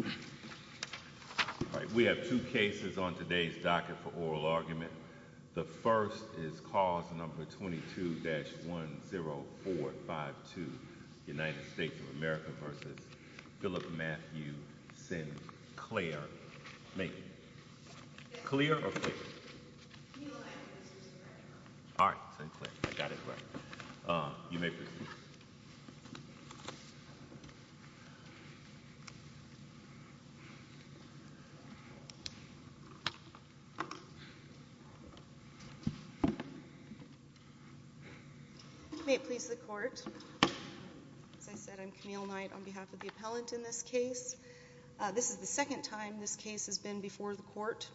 All right. We have two cases on today's docket for oral argument. The first is cause number 22-10452 United States of America v. Philip Matthew Sinclair. Clear or fake? All right. You may proceed. May it please the court. As I said, I'm Camille Knight on behalf of the appellant in this case. This is the second time this case has been before the court.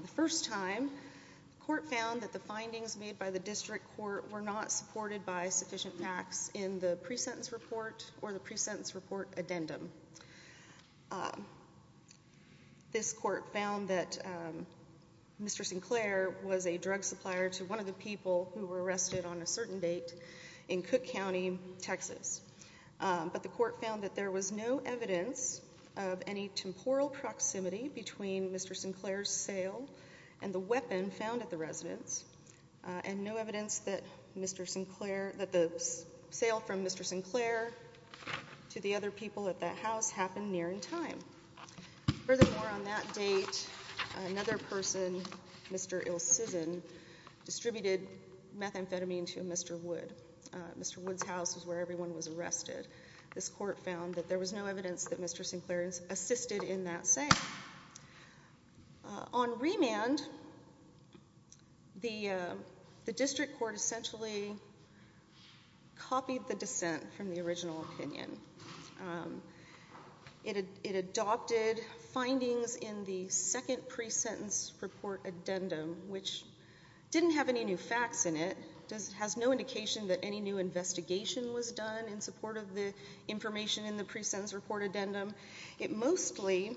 The first time, the court found that the findings made by the district court were not supported by sufficient facts in the pre-sentence report or the pre-sentence report addendum. This court found that Mr. Sinclair was a drug supplier to one of the people who were arrested on a certain date in Cook County, Texas. But the court found that there was no evidence of any temporal proximity between Mr. Sinclair's sale and the weapon found at the residence and no evidence that Mr. Sinclair, that the sale from Mr. Sinclair to the other people at that house happened near in time. Furthermore, on that date, another person, Mr. Ilcizen, distributed methamphetamine to Mr. Wood. Mr. Wood's house was where everyone was arrested. This court found that there was no evidence that Mr. Sinclair assisted in that sale. On remand, the district court essentially copied the dissent from the original opinion. It adopted findings in the second pre-sentence report addendum, which didn't have any new facts in it. It has no indication that any new investigation was done in support of the information in the pre-sentence report addendum. It mostly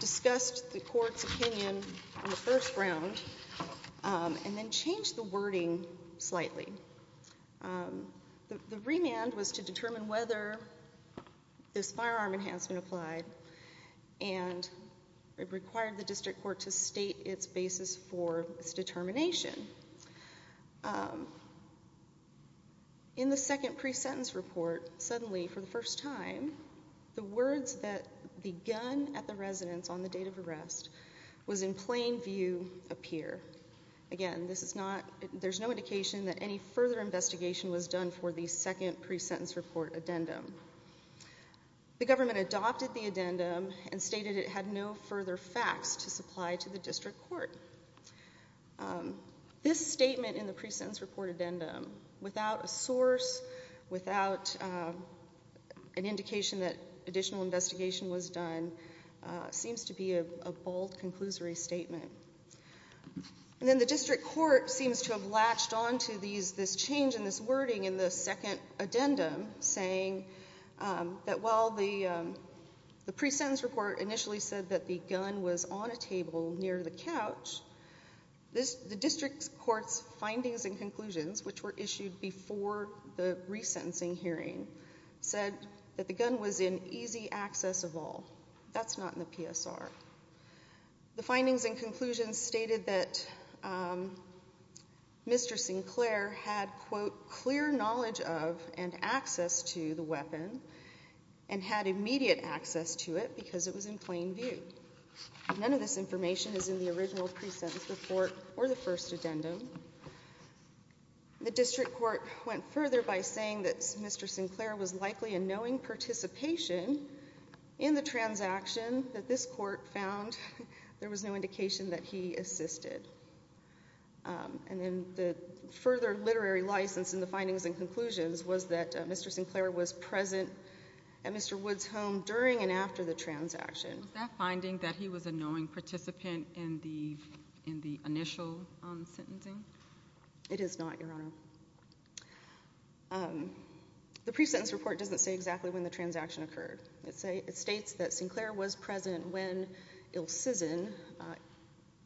discussed the court's opinion in the first round and then changed the wording slightly. The remand was to determine whether this firearm enhancement applied and it required the district court to state its basis for its determination. In the second pre-sentence report, suddenly for the first time, the words that the gun at the residence on the date of arrest was in plain view appear. Again, there's no indication that any further investigation was done for the second pre-sentence report addendum. The government adopted the addendum and stated it had no further facts to supply to the district court. This statement in the pre-sentence report addendum, without a source, without an indication that additional investigation was done, seems to be a bold, conclusory statement. Then the district court seems to have latched onto this change in this wording in the second addendum, saying that while the pre-sentence report initially said that the gun was on a table near the couch, the district court's findings and conclusions, which were issued before the resentencing hearing, said that the gun was in easy access of all. That's not in the PSR. The findings and conclusions stated that Mr. Sinclair had, quote, clear knowledge of and access to the weapon and had immediate access to it because it was in plain view. None of this information is in the original pre-sentence report or the first addendum. The district court went further by saying that Mr. Sinclair was likely in knowing participation in the transaction that this court found there was no indication that he assisted. And then the further literary license in the findings and conclusions was that Mr. Sinclair was present at Mr. Woods' home during and after the transaction. Was that finding that he was a knowing participant in the initial sentencing? It is not, Your Honor. The pre-sentence report doesn't say exactly when the transaction occurred. It states that Sinclair was present when Ilcizin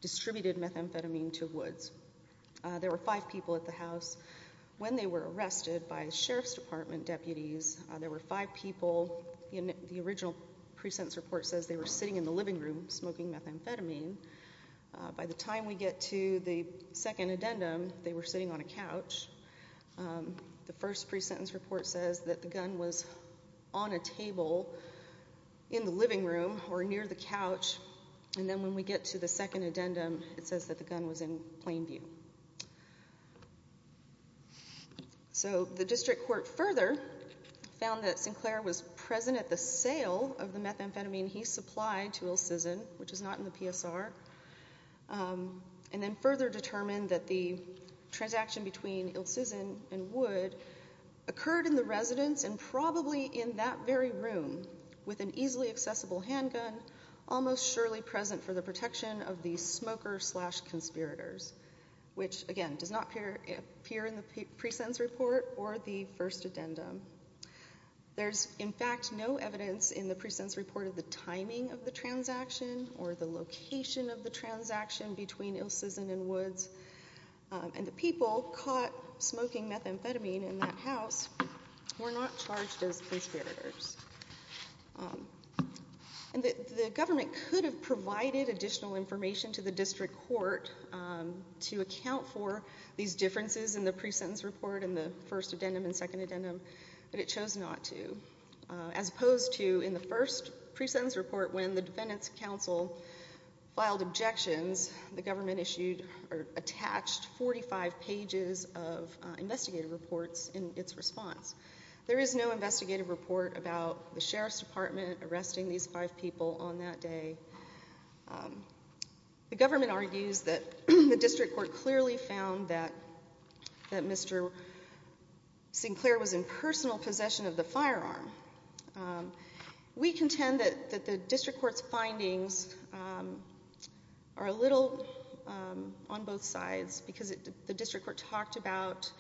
distributed methamphetamine to Woods. There were five people at the house. When they were arrested by sheriff's department deputies, there were five people. The original pre-sentence report says they were sitting in the living room smoking methamphetamine. By the time we get to the second addendum, they were sitting on a couch. The first pre-sentence report says that the gun was on a table in the living room or near the couch. And then when we get to the second addendum, it says that the gun was in plain view. So the district court further found that Sinclair was present at the sale of the methamphetamine he supplied to Ilcizin, which is not in the PSR, and then further determined that the transaction between Ilcizin and Woods occurred in the residence and probably in that very room with an easily accessible handgun almost surely present for the protection of the smoker slash conspirators, which, again, does not appear in the pre-sentence report or the first addendum. There's, in fact, no evidence in the pre-sentence report of the timing of the transaction or the location of the transaction between Ilcizin and Woods, and the people caught smoking methamphetamine in that house were not charged as conspirators. And the government could have provided additional information to the district court to account for these differences in the pre-sentence report and the first addendum and second addendum, but it chose not to, as opposed to in the first pre-sentence report when the defendants' counsel filed objections, the government attached 45 pages of investigative reports in its response. There is no investigative report about the sheriff's department arresting these five people on that day. The government argues that the district court clearly found that Mr. Sinclair was in personal possession of the firearm. We contend that the district court's findings are a little on both sides because the district court talked about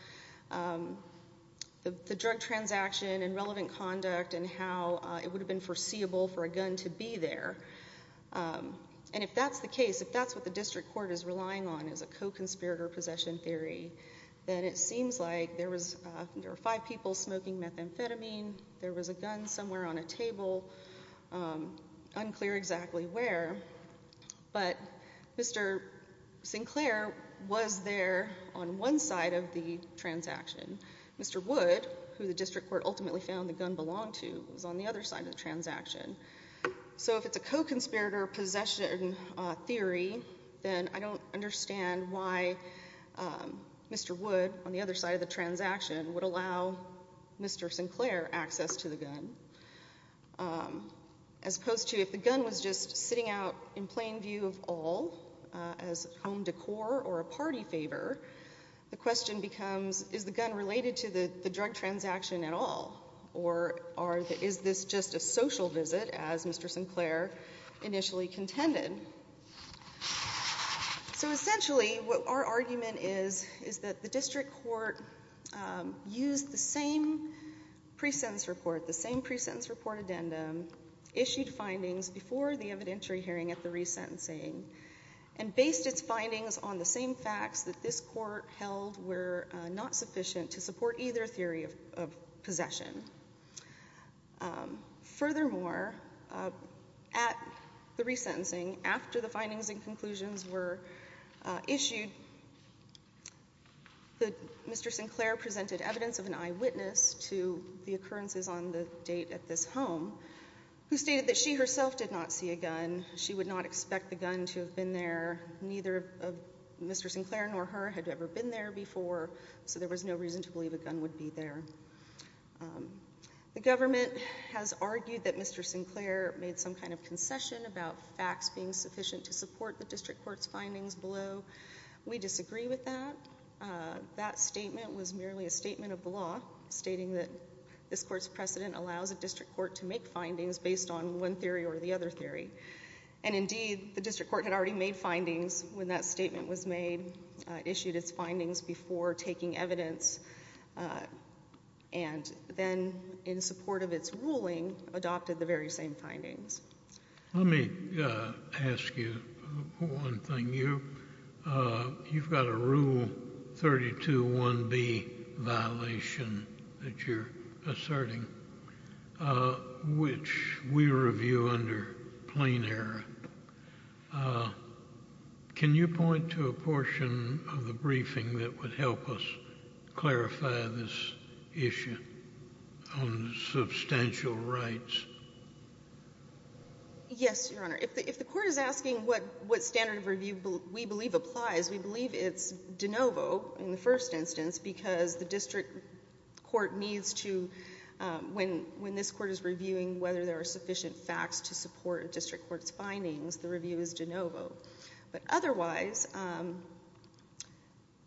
the drug transaction and relevant conduct and how it would have been foreseeable for a gun to be there. And if that's the case, if that's what the district court is relying on as a co-conspirator possession theory, then it seems like there were five people smoking methamphetamine, there was a gun somewhere on a table, unclear exactly where, but Mr. Sinclair was there on one side of the transaction. Mr. Wood, who the district court ultimately found the gun belonged to, was on the other side of the transaction. So if it's a co-conspirator possession theory, then I don't understand why Mr. Wood on the other side of the transaction would allow Mr. Sinclair access to the gun. As opposed to if the gun was just sitting out in plain view of all as home decor or a party favor, the question becomes, is the gun related to the drug transaction at all? Or is this just a social visit, as Mr. Sinclair initially contended? So essentially what our argument is, is that the district court used the same pre-sentence report, the same pre-sentence report addendum, issued findings before the evidentiary hearing at the resentencing, and based its findings on the same facts that this court held were not sufficient to support either theory of possession. Furthermore, at the resentencing, after the findings and conclusions were issued, Mr. Sinclair presented evidence of an eyewitness to the occurrences on the date at this home, who stated that she herself did not see a gun. She would not expect the gun to have been there. Neither of Mr. Sinclair nor her had ever been there before, so there was no reason to believe a gun would be there. The government has argued that Mr. Sinclair made some kind of concession about facts being sufficient to support the district court's findings below. We disagree with that. That statement was merely a statement of the law, stating that this court's precedent allows a district court to make findings based on one theory or the other theory. And indeed, the district court had already made findings when that statement was made, issued its findings before taking evidence, and then in support of its ruling, adopted the very same findings. Let me ask you one thing. You've got a Rule 32.1b violation that you're asserting, which we review under plain error. Can you point to a portion of the briefing that would help us clarify this issue on substantial rights? Yes, Your Honor. If the court is asking what standard of review we believe applies, we believe it's de novo in the first instance, because the district court needs to, when this court is reviewing whether there are sufficient facts to support a district court's findings, the review is de novo. But otherwise,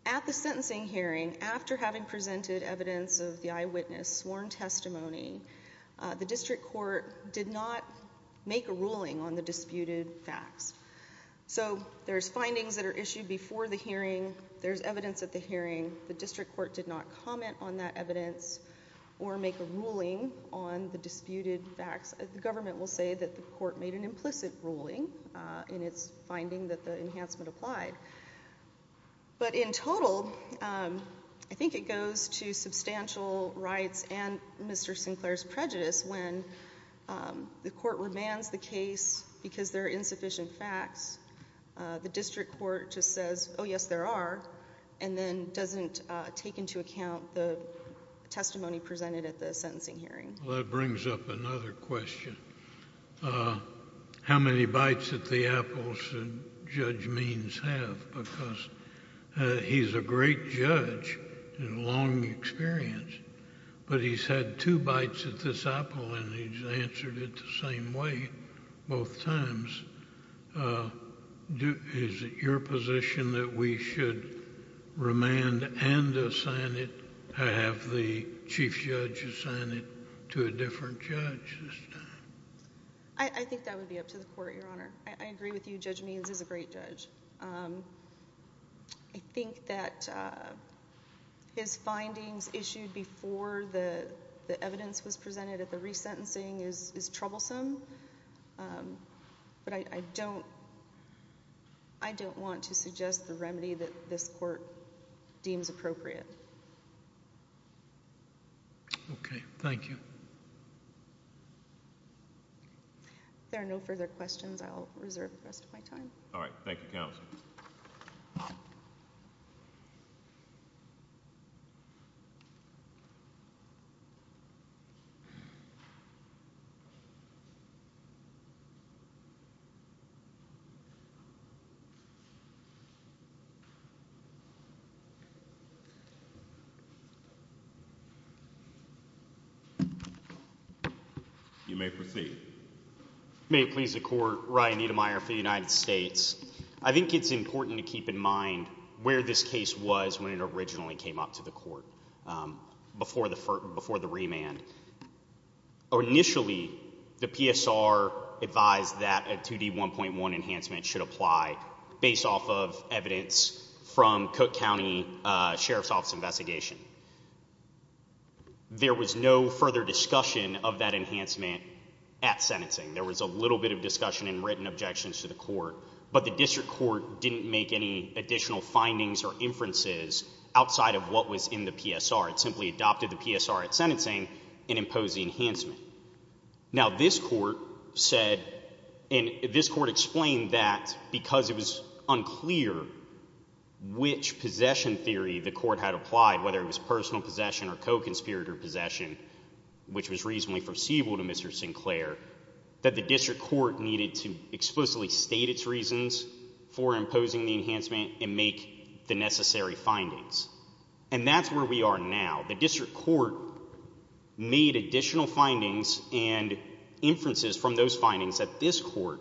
at the sentencing hearing, after having presented evidence of the eyewitness sworn testimony, the district court did not make a ruling on the disputed facts. So there's findings that are issued before the hearing. There's evidence at the hearing. The district court did not comment on that evidence or make a ruling on the disputed facts. The government will say that the court made an implicit ruling in its finding that the enhancement applied. But in total, I think it goes to substantial rights and Mr. Sinclair's prejudice. When the court remands the case because there are insufficient facts, the district court just says, oh, yes, there are, and then doesn't take into account the testimony presented at the sentencing hearing. Well, that brings up another question. How many bites at the apple should Judge Means have? Because he's a great judge and a long experience, but he's had two bites at this apple, and he's answered it the same way both times. Is it your position that we should remand and assign it, have the chief judge assign it to a different judge this time? I think that would be up to the court, Your Honor. I agree with you. Judge Means is a great judge. I think that his findings issued before the evidence was presented at the resentencing is troublesome, but I don't want to suggest the remedy that this court deems appropriate. Okay. Thank you. If there are no further questions, I'll reserve the rest of my time. All right. Thank you, counsel. You may proceed. May it please the Court, Ryan Niedermeyer for the United States. I think it's important to keep in mind where this case was when it originally came up to the court before the remand. Initially, the PSR advised that a 2D1.1 enhancement should apply based off of evidence from Cook County Sheriff's Office investigation. There was no further discussion of that enhancement at sentencing. There was a little bit of discussion and written objections to the court, but the district court didn't make any additional findings or inferences outside of what was in the PSR. It simply adopted the PSR at sentencing and imposed the enhancement. Now, this court said and this court explained that because it was unclear which possession theory the court had applied, whether it was personal possession or co-conspirator possession, which was reasonably foreseeable to Mr. Sinclair, that the district court needed to explicitly state its reasons for imposing the enhancement and make the necessary findings. And that's where we are now. The district court made additional findings and inferences from those findings that this court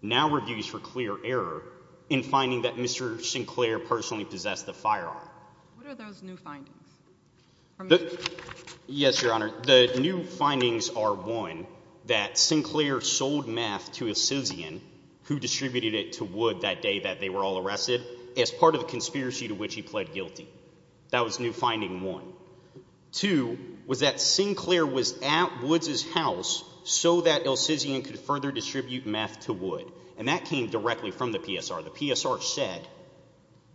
now reviews for clear error in finding that Mr. Sinclair personally possessed the firearm. What are those new findings? Yes, Your Honor. The new findings are, one, that Sinclair sold meth to a citizen who distributed it to Wood that day that they were all arrested as part of the conspiracy to which he pled guilty. That was the new finding, one. Two was that Sinclair was at Wood's house so that Ilcizian could further distribute meth to Wood, and that came directly from the PSR. The PSR said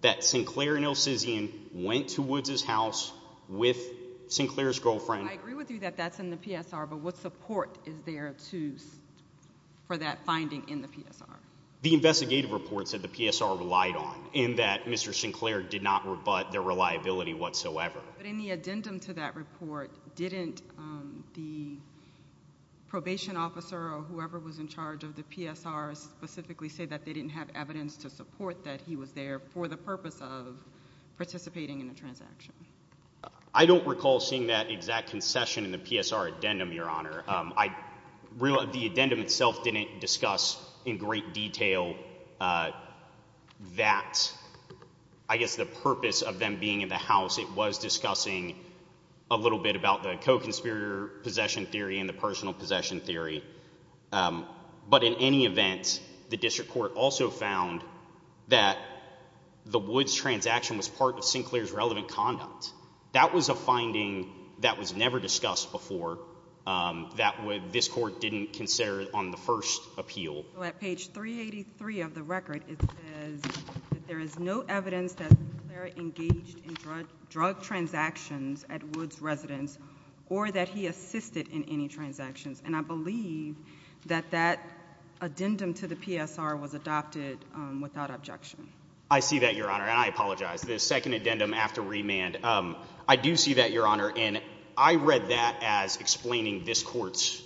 that Sinclair and Ilcizian went to Wood's house with Sinclair's girlfriend. I agree with you that that's in the PSR, but what support is there for that finding in the PSR? The investigative reports that the PSR relied on in that Mr. Sinclair did not rebut their reliability whatsoever. But in the addendum to that report, didn't the probation officer or whoever was in charge of the PSR specifically say that they didn't have evidence to support that he was there for the purpose of participating in a transaction? I don't recall seeing that exact concession in the PSR addendum, Your Honor. The addendum itself didn't discuss in great detail that, I guess, the purpose of them being in the house. It was discussing a little bit about the co-conspirator possession theory and the personal possession theory. But in any event, the district court also found that the Woods transaction was part of Sinclair's relevant conduct. That was a finding that was never discussed before, that this court didn't consider on the first appeal. At page 383 of the record, it says that there is no evidence that Sinclair engaged in drug transactions at Woods residence or that he assisted in any transactions. And I believe that that addendum to the PSR was adopted without objection. I see that, Your Honor, and I apologize. That's the second addendum after remand. I do see that, Your Honor, and I read that as explaining this court's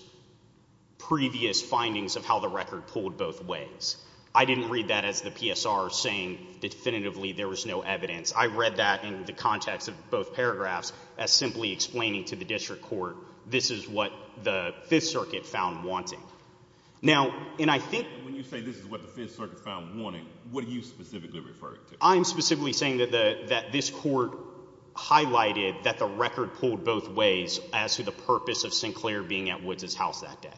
previous findings of how the record pulled both ways. I didn't read that as the PSR saying definitively there was no evidence. I read that in the context of both paragraphs as simply explaining to the district court this is what the Fifth Circuit found wanting. Now, and I think— When you say this is what the Fifth Circuit found wanting, what are you specifically referring to? I'm specifically saying that this court highlighted that the record pulled both ways as to the purpose of Sinclair being at Woods' house that day.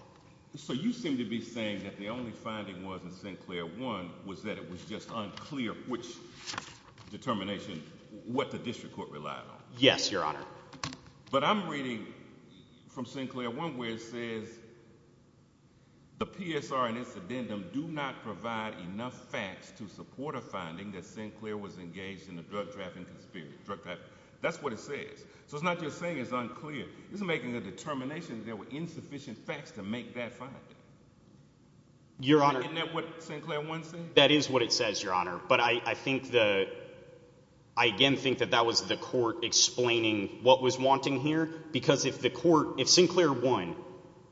So you seem to be saying that the only finding was in Sinclair 1 was that it was just unclear which determination what the district court relied on. Yes, Your Honor. But I'm reading from Sinclair 1 where it says the PSR and its addendum do not provide enough facts to support a finding that Sinclair was engaged in a drug trafficking conspiracy. That's what it says. So it's not just saying it's unclear. It's making a determination that there were insufficient facts to make that finding. Isn't that what Sinclair 1 says? That is what it says, Your Honor. But I think the—I again think that that was the court explaining what was wanting here because if the court—if Sinclair 1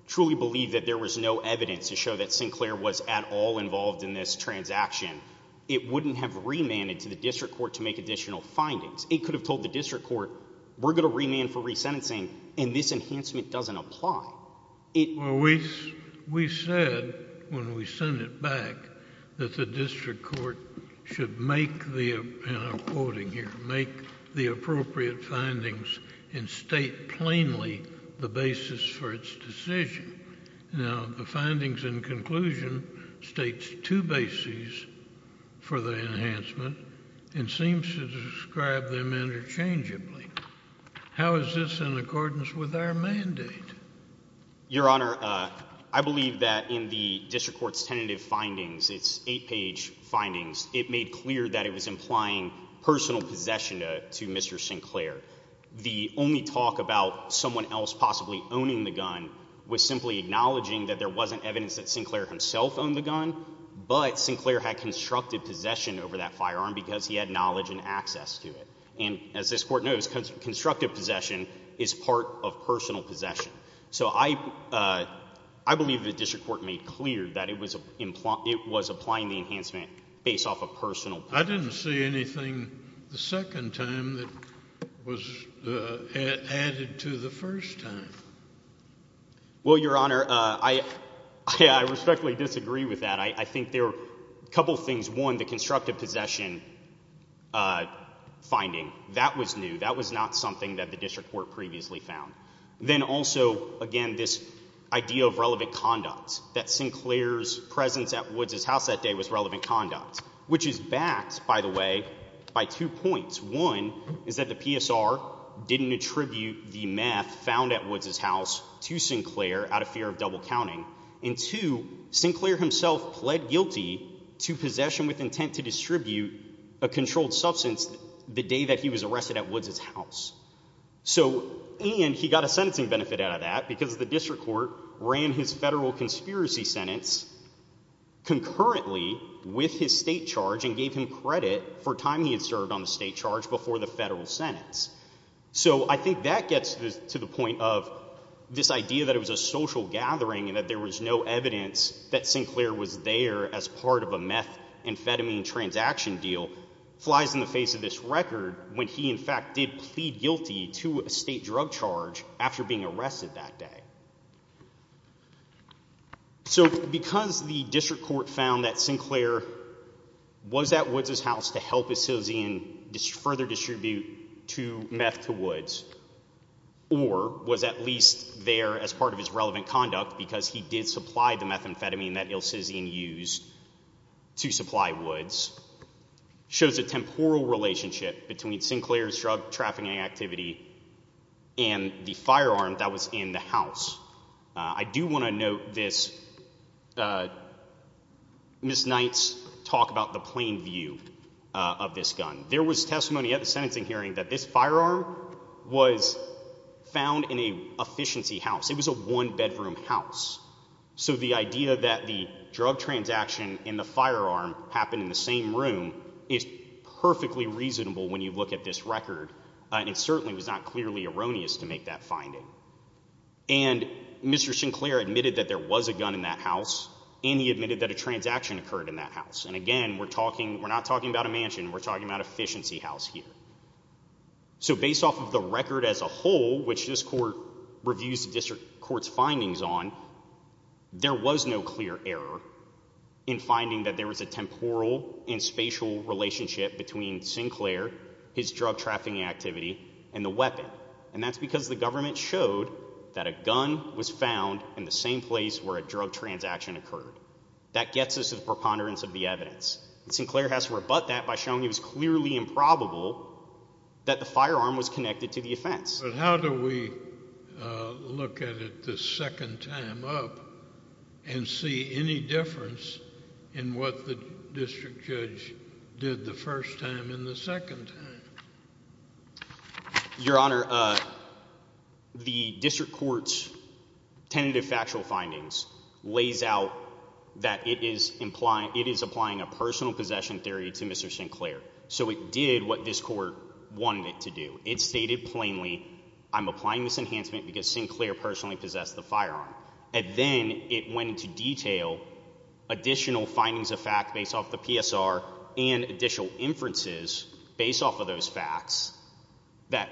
truly believed that there was no evidence to show that Sinclair was at all involved in this transaction, it wouldn't have remanded to the district court to make additional findings. It could have told the district court we're going to remand for resentencing, and this enhancement doesn't apply. We said when we sent it back that the district court should make the—and I'm quoting here—make the appropriate findings and state plainly the basis for its decision. Now, the findings in conclusion states two bases for the enhancement and seems to describe them interchangeably. How is this in accordance with our mandate? Your Honor, I believe that in the district court's tentative findings, its eight-page findings, it made clear that it was implying personal possession to Mr. Sinclair. The only talk about someone else possibly owning the gun was simply acknowledging that there wasn't evidence that Sinclair himself owned the gun, but Sinclair had constructed possession over that firearm because he had knowledge and access to it. And as this court knows, constructive possession is part of personal possession. So I believe the district court made clear that it was applying the enhancement based off of personal— I didn't see anything the second time that was added to the first time. Well, Your Honor, I respectfully disagree with that. I think there are a couple of things. One, the constructive possession finding, that was new. That was not something that the district court previously found. Then also, again, this idea of relevant conduct, that Sinclair's presence at Woods' house that day was relevant conduct, which is backed, by the way, by two points. One is that the PSR didn't attribute the meth found at Woods' house to Sinclair out of fear of double counting. And two, Sinclair himself pled guilty to possession with intent to distribute a controlled substance the day that he was arrested at Woods' house. And he got a sentencing benefit out of that because the district court ran his federal conspiracy sentence concurrently with his state charge and gave him credit for time he had served on the state charge before the federal sentence. So I think that gets to the point of this idea that it was a social gathering and that there was no evidence that Sinclair was there as part of a meth amphetamine transaction deal flies in the face of this record when he, in fact, did plead guilty to a state drug charge after being arrested that day. So because the district court found that Sinclair was at Woods' house to help his citizen further distribute meth to Woods, or was at least there as part of his relevant conduct because he did supply the methamphetamine that ill-citizen used to supply Woods, shows a temporal relationship between Sinclair's drug trafficking activity and the firearm that was in the house. I do want to note this Ms. Knight's talk about the plain view of this gun. There was testimony at the sentencing hearing that this firearm was found in an efficiency house. It was a one-bedroom house. So the idea that the drug transaction and the firearm happened in the same room is perfectly reasonable when you look at this record, and it certainly was not clearly erroneous to make that finding. And Mr. Sinclair admitted that there was a gun in that house, and he admitted that a transaction occurred in that house. And again, we're not talking about a mansion. We're talking about an efficiency house here. So based off of the record as a whole, which this court reviews the district court's findings on, there was no clear error in finding that there was a temporal and spatial relationship between Sinclair, his drug trafficking activity, and the weapon. And that's because the government showed that a gun was found in the same place where a drug transaction occurred. That gets us to the preponderance of the evidence. Sinclair has to rebut that by showing it was clearly improbable that the firearm was connected to the offense. But how do we look at it the second time up and see any difference in what the district judge did the first time and the second time? Your Honor, the district court's tentative factual findings lays out that it is applying a personal possession theory to Mr. Sinclair. So it did what this court wanted it to do. It stated plainly, I'm applying this enhancement because Sinclair personally possessed the firearm. And then it went into detail additional findings of fact based off the PSR and additional inferences based off of those facts that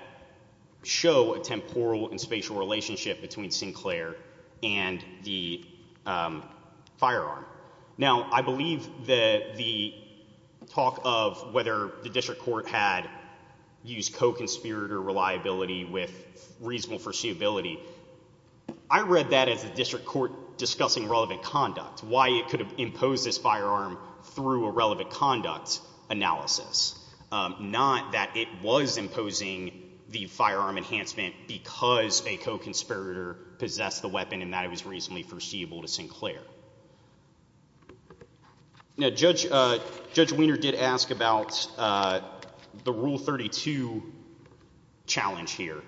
show a temporal and spatial relationship between Sinclair and the firearm. Now, I believe that the talk of whether the district court had used co-conspirator reliability with reasonable foreseeability. I read that as a district court discussing relevant conduct. Why it could have imposed this firearm through a relevant conduct analysis. Not that it was imposing the firearm enhancement because a co-conspirator possessed the weapon and that it was reasonably foreseeable to Sinclair. Now, Judge Weiner did ask about the Rule 32 challenge here.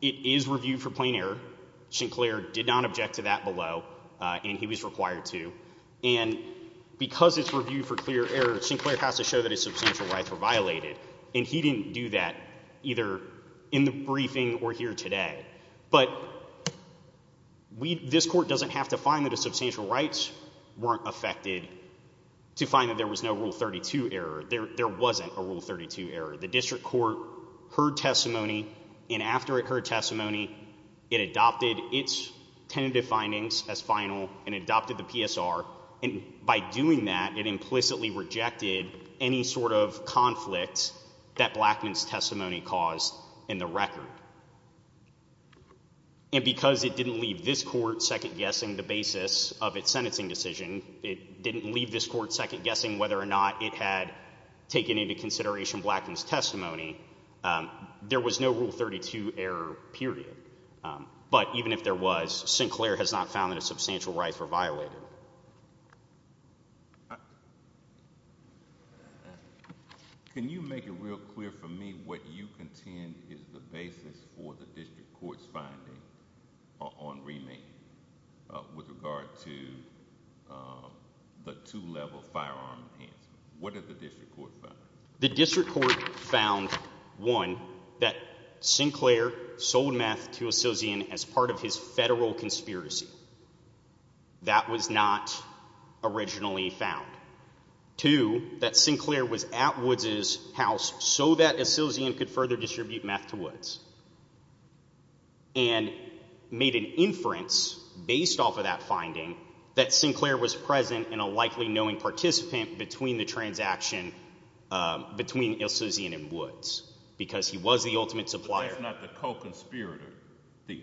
It is reviewed for plain error. Sinclair did not object to that below and he was required to. And because it's reviewed for clear error, Sinclair has to show that his substantial rights were violated. And he didn't do that either in the briefing or here today. But this court doesn't have to find that his substantial rights weren't affected to find that there was no Rule 32 error. There wasn't a Rule 32 error. The district court heard testimony and after it heard testimony, it adopted its tentative findings as final and adopted the PSR. And by doing that, it implicitly rejected any sort of conflict that Blackman's testimony caused in the record. And because it didn't leave this court second-guessing the basis of its sentencing decision, it didn't leave this court second-guessing whether or not it had taken into consideration Blackman's testimony, there was no Rule 32 error, period. But even if there was, Sinclair has not found that his substantial rights were violated. Can you make it real clear for me what you contend is the basis for the district court's finding on remand with regard to the two-level firearm enhancement? What did the district court find? The district court found, one, that Sinclair sold meth to Asilzian as part of his federal conspiracy. That was not originally found. Two, that Sinclair was at Woods' house so that Asilzian could further distribute meth to Woods. And made an inference based off of that finding that Sinclair was present and a likely knowing participant between the transaction between Asilzian and Woods, because he was the ultimate supplier. But that's not the co-conspirator theory.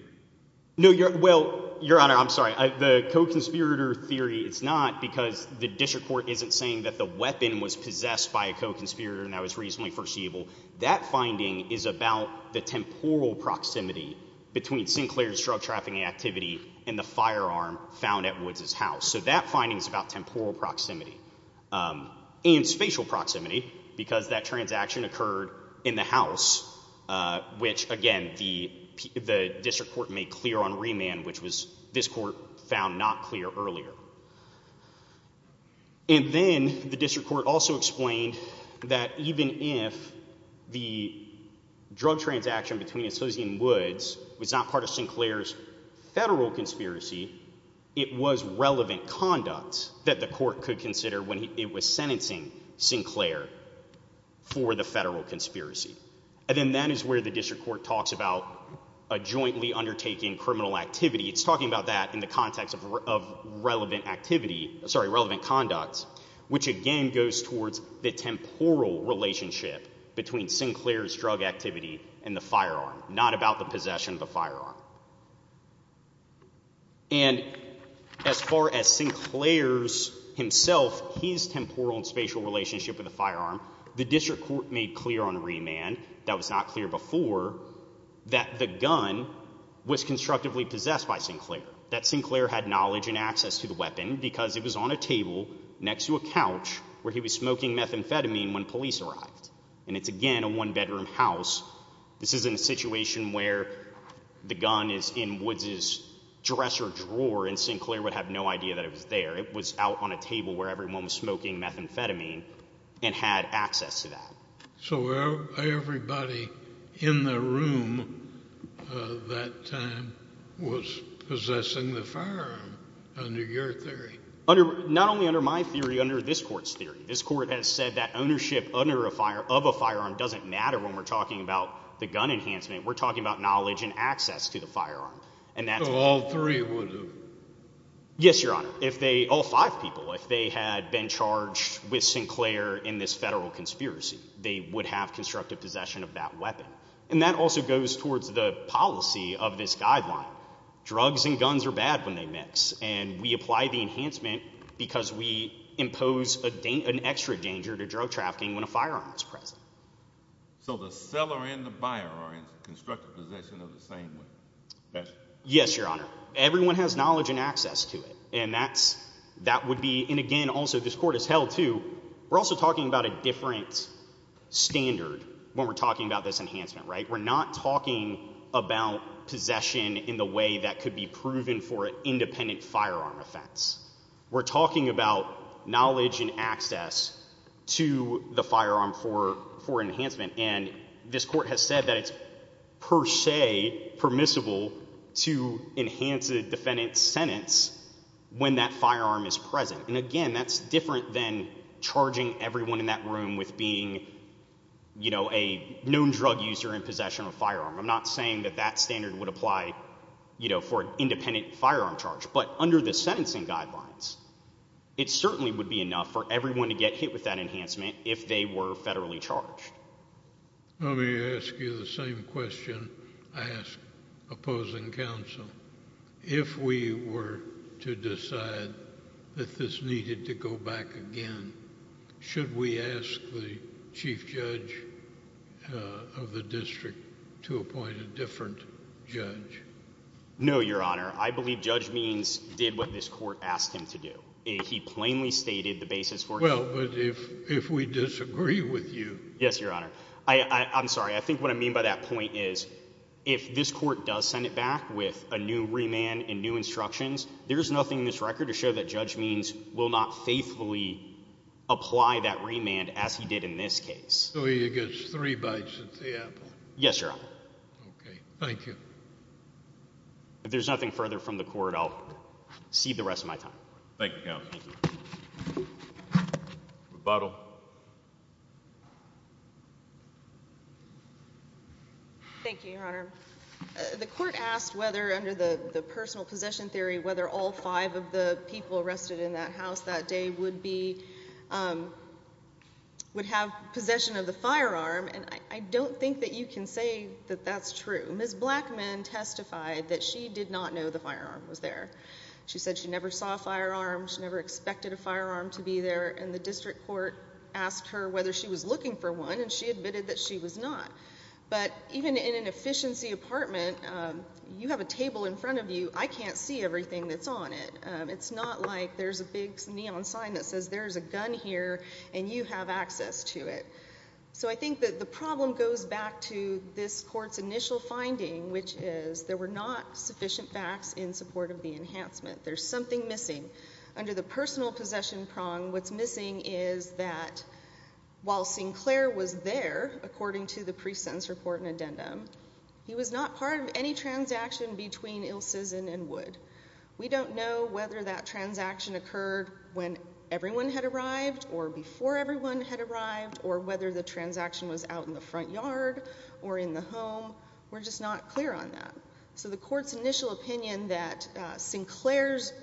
No, well, Your Honor, I'm sorry. The co-conspirator theory is not because the district court isn't saying that the weapon was possessed by a co-conspirator and that was reasonably foreseeable. That finding is about the temporal proximity between Sinclair's drug trafficking activity and the firearm found at Woods' house. So that finding is about temporal proximity and spatial proximity because that transaction occurred in the house, which, again, the district court made clear on remand, which this court found not clear earlier. And then the district court also explained that even if the drug transaction between Asilzian and Woods was not part of Sinclair's federal conspiracy, it was relevant conduct that the court could consider when it was sentencing Sinclair for the federal conspiracy. And then that is where the district court talks about a jointly undertaking criminal activity. It's talking about that in the context of relevant activity, sorry, relevant conduct, which again goes towards the temporal relationship between Sinclair's drug activity and the firearm, not about the possession of the firearm. And as far as Sinclair's himself, his temporal and spatial relationship with the firearm, the district court made clear on remand that was not clear before that the gun was constructively possessed by Sinclair, that Sinclair had knowledge and access to the weapon because it was on a table next to a couch where he was smoking methamphetamine when police arrived. And it's, again, a one-bedroom house. This isn't a situation where the gun is in Woods' dresser drawer and Sinclair would have no idea that it was there. It was out on a table where everyone was smoking methamphetamine and had access to that. So everybody in the room that time was possessing the firearm under your theory? Not only under my theory, under this court's theory. This court has said that ownership of a firearm doesn't matter when we're talking about the gun enhancement. We're talking about knowledge and access to the firearm. So all three would have? Yes, Your Honor. If they, all five people, if they had been charged with Sinclair in this federal conspiracy, they would have constructive possession of that weapon. And that also goes towards the policy of this guideline. Drugs and guns are bad when they mix. And we apply the enhancement because we impose an extra danger to drug trafficking when a firearm is present. So the seller and the buyer are in constructive possession of the same weapon? Yes, Your Honor. But everyone has knowledge and access to it. And that's, that would be, and again also this court has held too, we're also talking about a different standard when we're talking about this enhancement, right? We're not talking about possession in the way that could be proven for an independent firearm offense. We're talking about knowledge and access to the firearm for enhancement. And this court has said that it's per se permissible to enhance a defendant's sentence when that firearm is present. And again, that's different than charging everyone in that room with being, you know, a known drug user in possession of a firearm. I'm not saying that that standard would apply, you know, for an independent firearm charge. But under the sentencing guidelines, it certainly would be enough for everyone to get hit with that enhancement if they were federally charged. Let me ask you the same question I ask opposing counsel. If we were to decide that this needed to go back again, should we ask the chief judge of the district to appoint a different judge? No, Your Honor. I believe Judge Means did what this court asked him to do. He plainly stated the basis for it. Well, but if we disagree with you. Yes, Your Honor. I'm sorry. I think what I mean by that point is if this court does send it back with a new remand and new instructions, there's nothing in this record to show that Judge Means will not faithfully apply that remand as he did in this case. So he gets three bites at the apple. Yes, Your Honor. Thank you. If there's nothing further from the court, I'll cede the rest of my time. Thank you, counsel. Rebuttal. Thank you, Your Honor. The court asked whether under the personal possession theory, whether all five of the people arrested in that house that day would have possession of the firearm. And I don't think that you can say that that's true. Ms. Blackman testified that she did not know the firearm was there. She said she never saw a firearm. She never expected a firearm to be there. And the district court asked her whether she was looking for one, and she admitted that she was not. But even in an efficiency apartment, you have a table in front of you. I can't see everything that's on it. It's not like there's a big neon sign that says there's a gun here and you have access to it. So I think that the problem goes back to this court's initial finding, which is there were not sufficient facts in support of the enhancement. There's something missing. Under the personal possession prong, what's missing is that while Sinclair was there, according to the pre-sentence report and addendum, he was not part of any transaction between Il Sizin and Wood. We don't know whether that transaction occurred when everyone had arrived or before everyone had arrived or whether the transaction was out in the front yard or in the home. We're just not clear on that. So the court's initial opinion that Sinclair's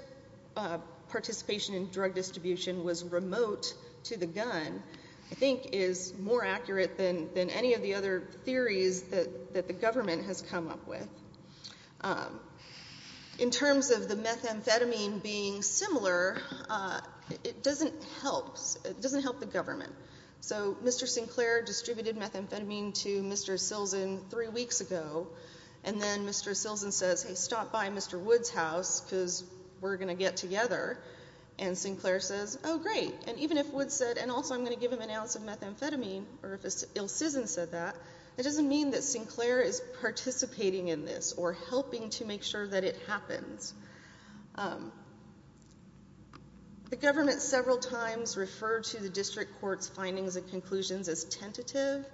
participation in drug distribution was remote to the gun, I think, is more accurate than any of the other theories that the government has come up with. In terms of the methamphetamine being similar, it doesn't help. It doesn't help the government. So Mr. Sinclair distributed methamphetamine to Mr. Silzen three weeks ago, and then Mr. Silzen says, hey, stop by Mr. Wood's house because we're going to get together. And Sinclair says, oh, great. And even if Wood said, and also I'm going to give him an ounce of methamphetamine, or if Il Sizin said that, it doesn't mean that Sinclair is participating in this or helping to make sure that it happens. The government several times referred to the district court's findings and conclusions as tentative.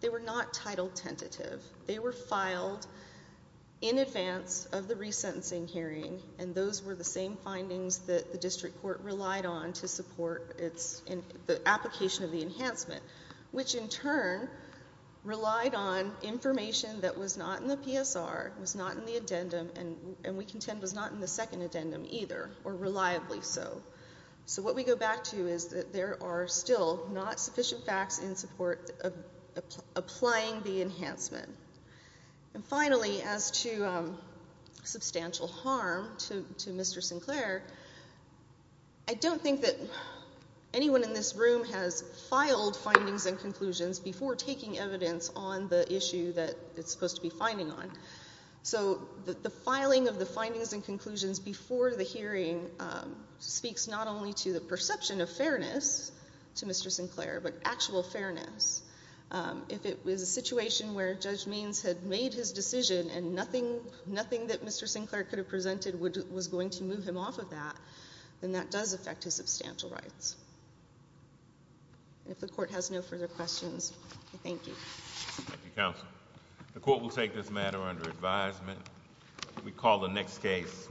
They were not titled tentative. They were filed in advance of the resentencing hearing, and those were the same findings that the district court relied on to support the application of the enhancement, which in turn relied on information that was not in the PSR, was not in the addendum, and we contend was not in the second addendum either, or reliably so. So what we go back to is that there are still not sufficient facts in support of applying the enhancement. And finally, as to substantial harm to Mr. Sinclair, I don't think that anyone in this room has filed findings and conclusions before taking evidence on the issue that it's supposed to be finding on. So the filing of the findings and conclusions before the hearing speaks not only to the perception of fairness to Mr. Sinclair, but actual fairness. If it was a situation where Judge Means had made his decision and nothing that Mr. Sinclair could have presented was going to move him off of that, then that does affect his substantial rights. And if the court has no further questions, I thank you. Thank you, counsel. The court will take this matter under advisement. We call the next case.